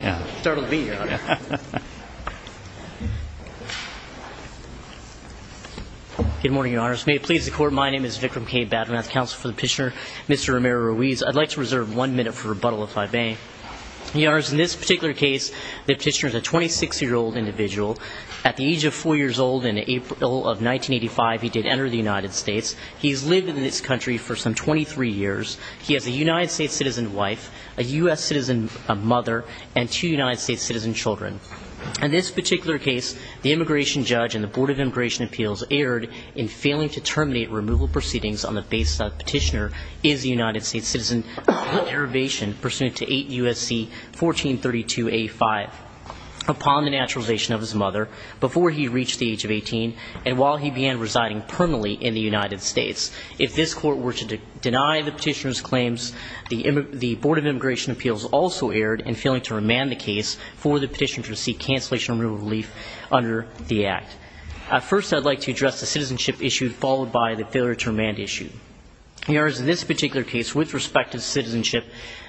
Good morning, Your Honors. May it please the Court, my name is Vikram K. Badranath, Counsel for the Petitioner, Mr. Romero-Ruiz. I'd like to reserve one minute for rebuttal, if I may. Your Honors, in this particular case, the petitioner is a 26-year-old individual. At the age of 4 years old in April of 1985, he did enter the United States. He's lived in this country for some 23 years. He has a United States citizen wife, a U.S. citizen mother, and two United States citizen children. In this particular case, the immigration judge and the Board of Immigration Appeals erred in failing to terminate removal proceedings on the basis that the petitioner is a United States citizen, under probation, pursuant to 8 U.S.C. 1432A5, upon the naturalization of his mother, before he reached the age of 18, and while he began residing permanently in the United States. If this Court were to remand the case for the petitioner to receive cancellation of removal relief under the Act. First, I'd like to address the citizenship issue, followed by the failure to remand issue. Your Honors, in this particular case, with respect to citizenship,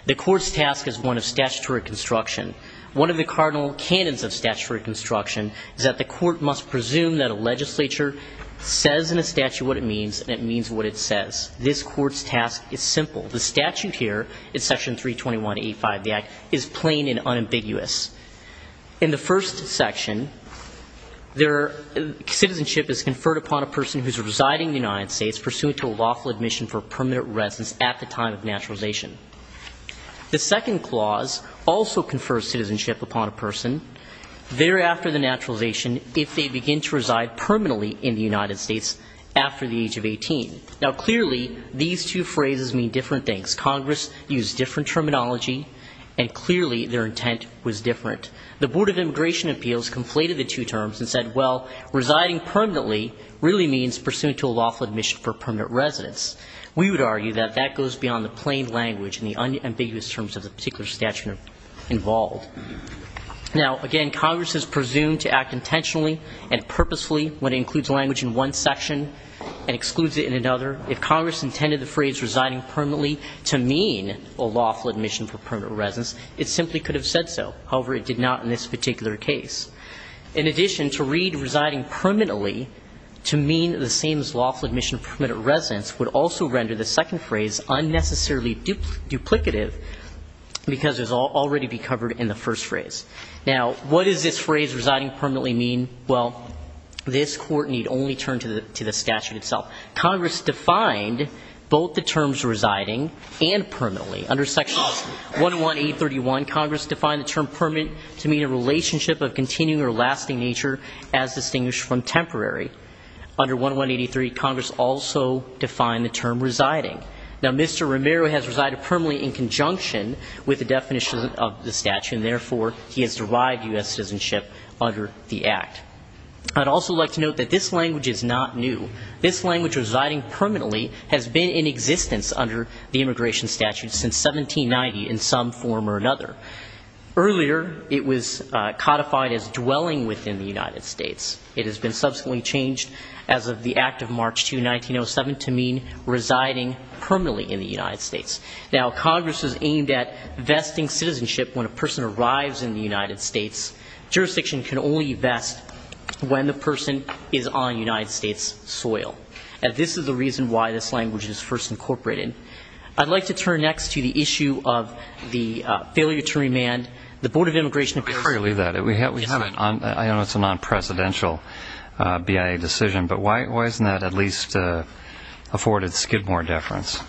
the Court's task is one of statutory construction. One of the cardinal canons of statutory construction is that the Court must presume that a legislature says in a statute what it means, and it means what it says. This Court's task is simple. The statute here, in Section 321A5 of the Act, is plain and unambiguous. In the first section, citizenship is conferred upon a person who is residing in the United States, pursuant to a lawful admission for permanent residence at the time of naturalization. The second clause also confers citizenship upon a person thereafter the naturalization, if they begin to reside permanently in the United States after the age of 18. Now, clearly, these two phrases mean different things. Congress used different terminology, and clearly their intent was different. The Board of Immigration Appeals conflated the two terms and said, well, residing permanently really means pursuant to a lawful admission for permanent residence. We would argue that that goes beyond the plain language and the unambiguous terms of the particular statute involved. Now, again, Congress has presumed to act intentionally and purposefully when it includes language in one section and excludes it in another. If Congress intended the phrase residing permanently to mean a lawful admission for permanent residence, it simply could have said so. However, it did not in this particular case. In addition, to read residing permanently to mean the same as lawful admission for permanent residence would also render the second phrase unnecessarily duplicative because it would already be covered in the first phrase. Now, what does this phrase, residing permanently, mean? Well, this Court need only turn to the Sections 11831. Congress defined the term permanent to mean a relationship of continuing or lasting nature as distinguished from temporary. Under 1183, Congress also defined the term residing. Now, Mr. Romero has resided permanently in conjunction with the definition of the statute, and therefore he has derived U.S. citizenship under the Act. I'd also like to note that this language is not new. This language, residing permanently, has been in existence under the immigration statute since 1790 in some form or another. Earlier, it was codified as dwelling within the United States. It has been subsequently changed as of the Act of March 2, 1907, to mean residing permanently in the United States. Now, Congress is aimed at vesting citizenship when a person arrives in the United States. Jurisdiction can only vest when the person is on United States soil. And this is the reason why this language is first incorporated. I'd like to turn next to the issue of the failure to remand the Board of Immigration Appeals. I'm going to leave that. We have a non-presidential BIA decision, but why isn't that at least afforded Skidmore deference?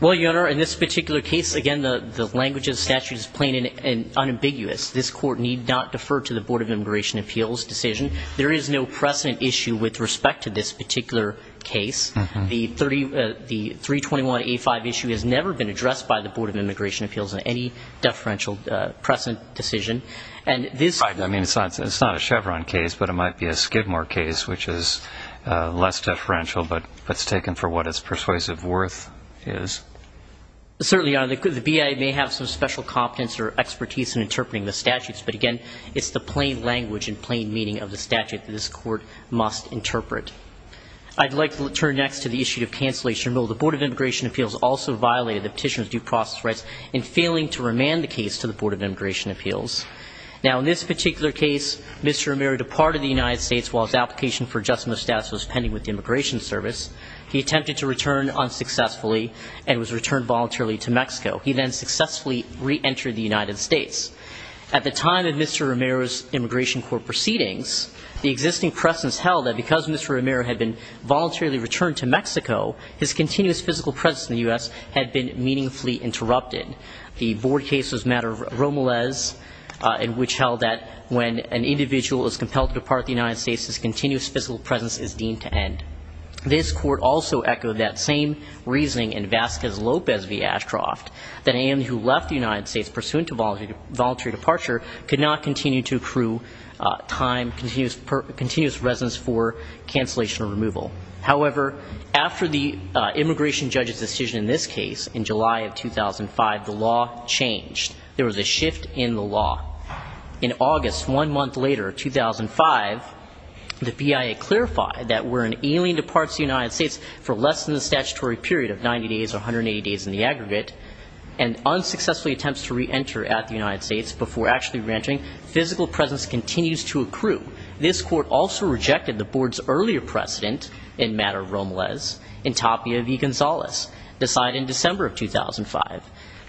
Well, Your Honor, in this particular case, again, the language of the statute is plain and unambiguous. This Court need not defer to the Board of Immigration Appeals decision. There is no precedent issue with respect to this particular case. The 321A5 issue has never been addressed by the Board of Immigration Appeals in any deferential precedent decision. And this It's not a Chevron case, but it might be a Skidmore case, which is less deferential, but it's taken for what its persuasive worth is. Certainly, Your Honor, the BIA may have some special competence or expertise in interpreting the statutes, but again, it's the plain language and plain meaning of the statute that this Court must interpret. I'd like to turn next to the issue of cancellation. The Board of Immigration Appeals also violated the Petitioner's due process rights in failing to remand the case to the Board of Immigration Appeals. Now, in this particular case, Mr. Romero departed the United States while his application for adjustment of status was pending with the Immigration Service. He attempted to return unsuccessfully and was returned voluntarily to Mexico. He then successfully reentered the United States. At the time of Mr. Romero's Immigration Court proceedings, the existing precedence held that because Mr. Romero had been voluntarily returned to Mexico, his continuous physical presence in the U.S. had been meaningfully interrupted. The Board case was a matter of Romeles, which held that when an individual is compelled to depart the United States, his continuous physical presence is deemed to end. This Court also echoed that same reasoning in Vasquez Lopez v. Ashcroft that anyone who left the United States pursuant to voluntary departure could not continue to accrue time, continuous residence for cancellation or removal. However, after the immigration judge's decision in this case, in July of 2005, the law changed. There was a shift in the law. In August, one month later, 2005, the BIA clarified that were an alien departs the United States for less than the statutory period of 90 days or 180 days in the aggregate, and unsuccessfully attempts to reenter at the United States before actually reentering, physical presence continues to accrue. This Court also rejected the Board's earlier precedent in matter of Romeles in Tapia v. Gonzalez, decided in December of 2005.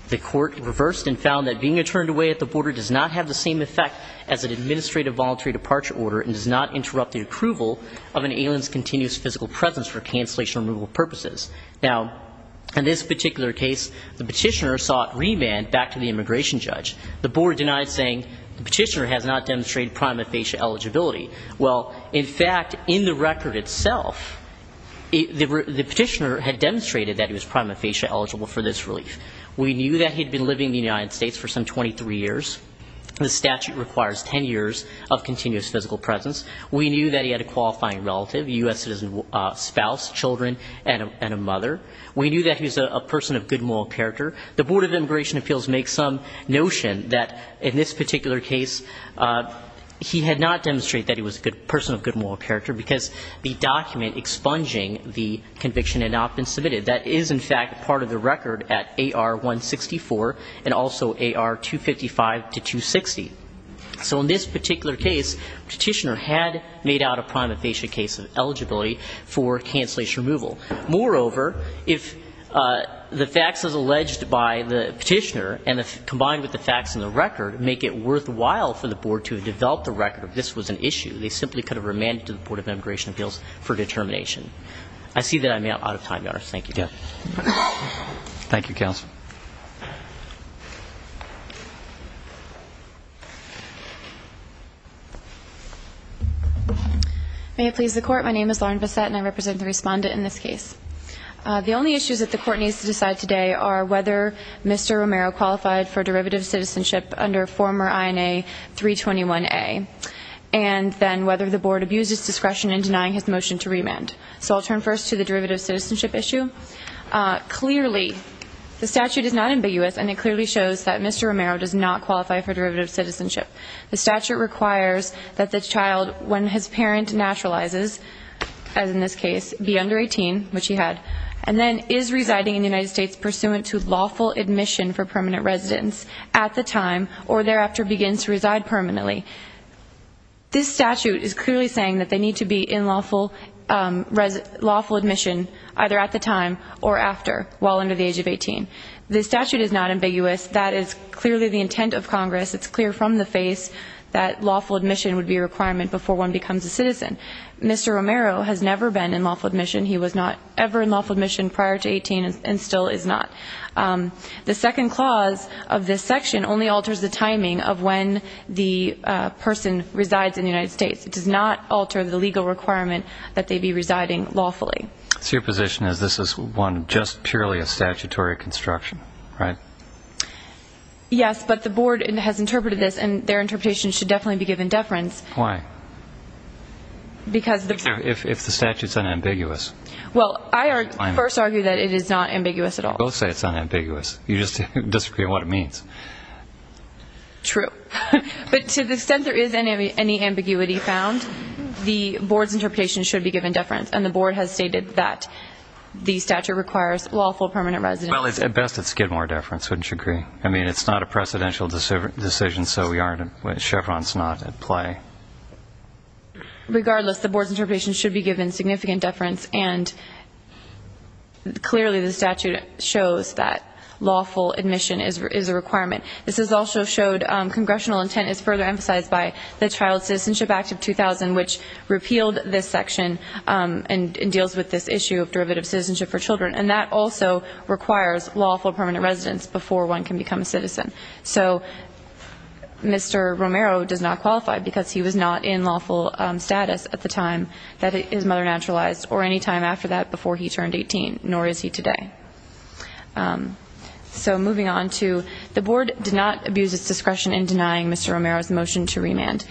The Court reversed and found that being returned away at the border does not have the same effect as an administrative voluntary departure order and does not interrupt the approval of an alien's continuous physical presence for cancellation or removal purposes. Now, in this particular case, the petitioner sought remand back to the immigration judge. The Board denied saying the petitioner has not demonstrated prima facie eligibility. Well, in fact, in the record itself, the petitioner had demonstrated that he was prima facie eligible for this relief. We knew that he had been living in the United States for some 23 years. The statute requires 10 years of continuous physical presence. We knew that he had a qualifying relative, a U.S. citizen spouse, children, and a mother. We knew that he was a person of good moral character. The Board of Immigration Appeals makes some notion that in this particular case he had not demonstrated that he was a person of good moral character because the document expunging the conviction had not been submitted. That is, in fact, part of the record at AR-164 and also AR-255-260. So in this particular case, the petitioner had made out a prima facie case of eligibility for cancellation removal. Moreover, if the facts as alleged by the petitioner and combined with the facts in the record make it worthwhile for the Board to have developed the record that this was an issue, they simply could have remanded to the Board of Immigration Appeals for determination. I see that I'm out of time, Your Honor. Thank you. Thank you, counsel. May it please the Court, my name is Lauren Bissette and I represent the respondent in this case. The only issues that the Court needs to decide today are whether Mr. Romero qualified for derivative citizenship under former INA 321A and then whether the Board abused its discretion in denying his motion to remand. So I'll turn first to the derivative citizenship issue. Clearly, the statute is not ambiguous and it clearly shows that Mr. Romero does not qualify for derivative citizenship. The statute requires that the child, when his parent naturalizes, as in this case, be under 18, which he had, and then is residing in the United States pursuant to lawful admission for permanent residence at the time or thereafter begins to reside permanently. This statute is clearly saying that they need to be in lawful admission either at the time or after while under the age of 18. The statute is not ambiguous. That is clearly the intent of Congress. It's clear from the face that becomes a citizen. Mr. Romero has never been in lawful admission. He was not ever in lawful admission prior to 18 and still is not. The second clause of this section only alters the timing of when the person resides in the United States. It does not alter the legal requirement that they be residing lawfully. So your position is this is one, just purely a statutory construction, right? Yes, but the Board has interpreted this and their interpretation should definitely be given deference. Why? If the statute's unambiguous. Well, I first argue that it is not ambiguous at all. Both say it's unambiguous. You just disagree on what it means. True. But to the extent there is any ambiguity found, the Board's interpretation should be given deference, and the Board has stated that the statute requires lawful permanent residence. Well, at best it's Gidmore deference, wouldn't you agree? I mean, it's not a precedential decision, so Chevron's not at play. Regardless, the Board's interpretation should be given significant deference, and clearly the statute shows that lawful admission is a requirement. This is also showed congressional intent is further emphasized by the Child Citizenship Act of 2000, which repealed this section and deals with this issue of derivative citizenship for children, and that also requires lawful permanent residence before one can become a citizen. So Mr. Romero does not qualify because he was not in lawful status at the time that his mother naturalized, or any time after that before he turned 18, nor is he today. So moving on to the Board did not abuse its discretion in denying Mr. Romero's motion to remand.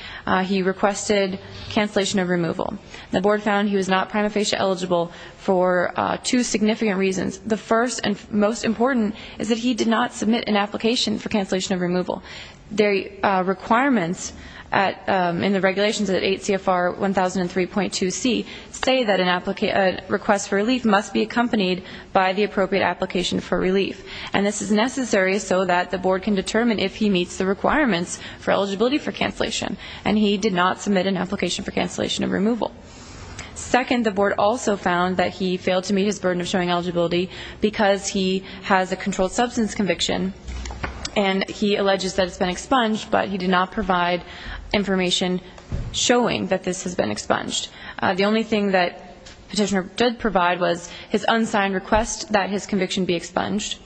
He requested cancellation of removal. The Board found he was not prima facie eligible for two significant reasons. The first and most important is that he did not submit an application for cancellation of removal. The requirements in the regulations at 8 CFR 1003.2c say that a request for relief must be accompanied by the appropriate application for relief, and this is necessary so that the Board can determine if he meets the requirements for eligibility for cancellation, and he did not submit an application for cancellation of removal. Second, the Board also found that he failed to meet his burden of showing eligibility because he has a controlled substance conviction, and he alleges that it's been expunged, but he did not provide information showing that this has been expunged. The only thing that Petitioner did provide was his unsigned request that his conviction be expunged,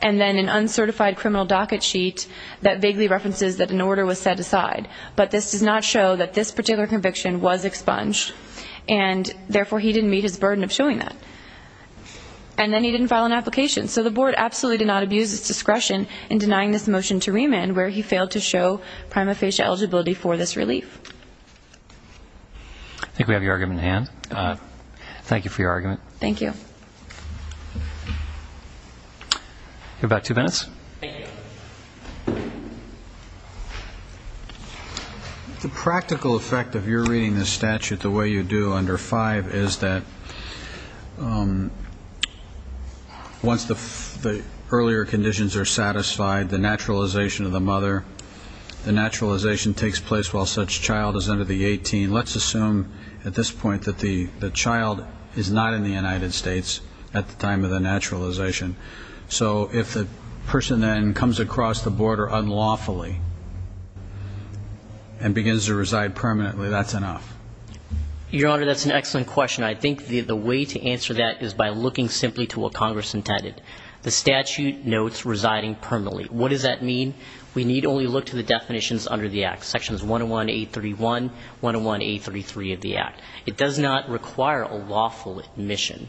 and then an uncertified criminal docket sheet that vaguely references that an order was set aside, but this does not show that this particular conviction was expunged, and therefore he didn't meet his burden of showing that. And then he didn't file an application. So the Board absolutely did not abuse its discretion in denying this motion to remand where he failed to show prima facie eligibility for this relief. I think we have your argument in hand. Thank you for your argument. Thank you. You have about two minutes. Thank you. The practical effect of your reading the statute the way you do under 5 is that once the earlier conditions are satisfied, the naturalization of the mother, the naturalization takes place while such child is under the 18, let's assume at this point that the child is not in the United States at the time of the naturalization. So if the person then comes across the border unlawfully and begins to reside permanently, that's enough. Your Honor, that's an excellent question. I think the way to answer that is by looking simply to what Congress intended. The statute notes residing permanently. What does that mean? We need only look to the definitions under the Act, Sections 101-831, 101-833 of the Act. It does not require a lawful admission.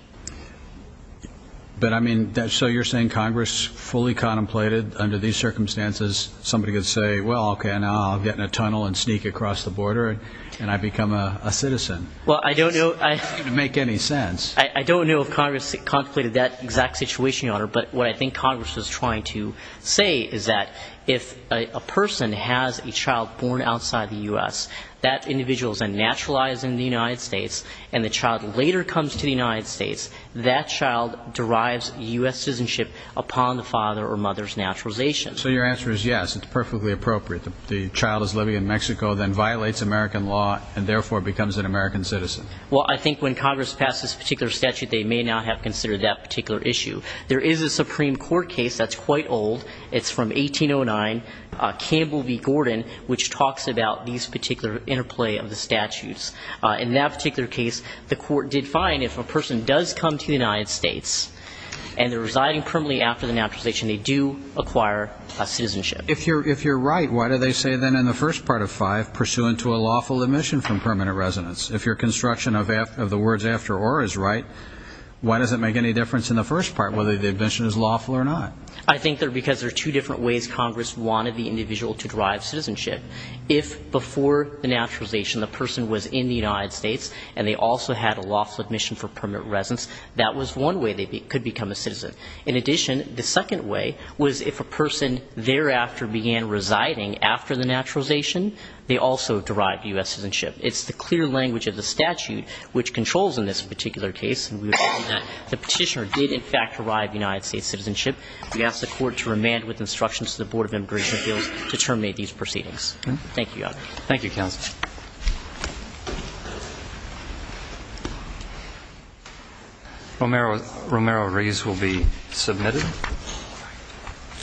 But I mean, so you're saying Congress fully contemplated under these circumstances, somebody could say, well, okay, now I'll get in a tunnel and sneak across the border and I become a citizen. Well, I don't know. It doesn't make any sense. I don't know if Congress contemplated that exact situation, Your Honor, but what I think Congress was trying to say is that if a person has a child born outside the U.S., that individual is then naturalized in the United States, and the child later comes to the United States, that child derives U.S. citizenship upon the father or mother's naturalization. So your answer is yes, it's perfectly appropriate. The child is living in Mexico, then violates American law, and therefore becomes an American citizen. Well, I think when Congress passed this particular statute, they may not have considered that particular issue. There is a Supreme Court case that's quite old. It's from 1809, Campbell v. Gordon, which talks about these particular interplay of the statutes. In that particular case, the court did find if a person does come to the United States and they're residing permanently after the naturalization, they do acquire citizenship. If you're right, why do they say then in the first part of 5, pursuant to a lawful admission from permanent residence? If your construction of the words after or is right, why does it make any difference in the first part, whether the admission is lawful or not? I think that because there are two different ways Congress wanted the individual to derive citizenship. If before the naturalization the person was in the United States and they also had a lawful admission for permanent residence, that was one way they could become a citizen. In addition, the second way was if a person thereafter began residing after the naturalization, they also derived U.S. citizenship. It's the clear language of the statute which controls in this particular case, and we would find that the petitioner did, in fact, derive United States citizenship. We ask the court to remand with instructions to the Board of Immigration Appeals to terminate these proceedings. Thank you, Your Honor. Thank you, counsel.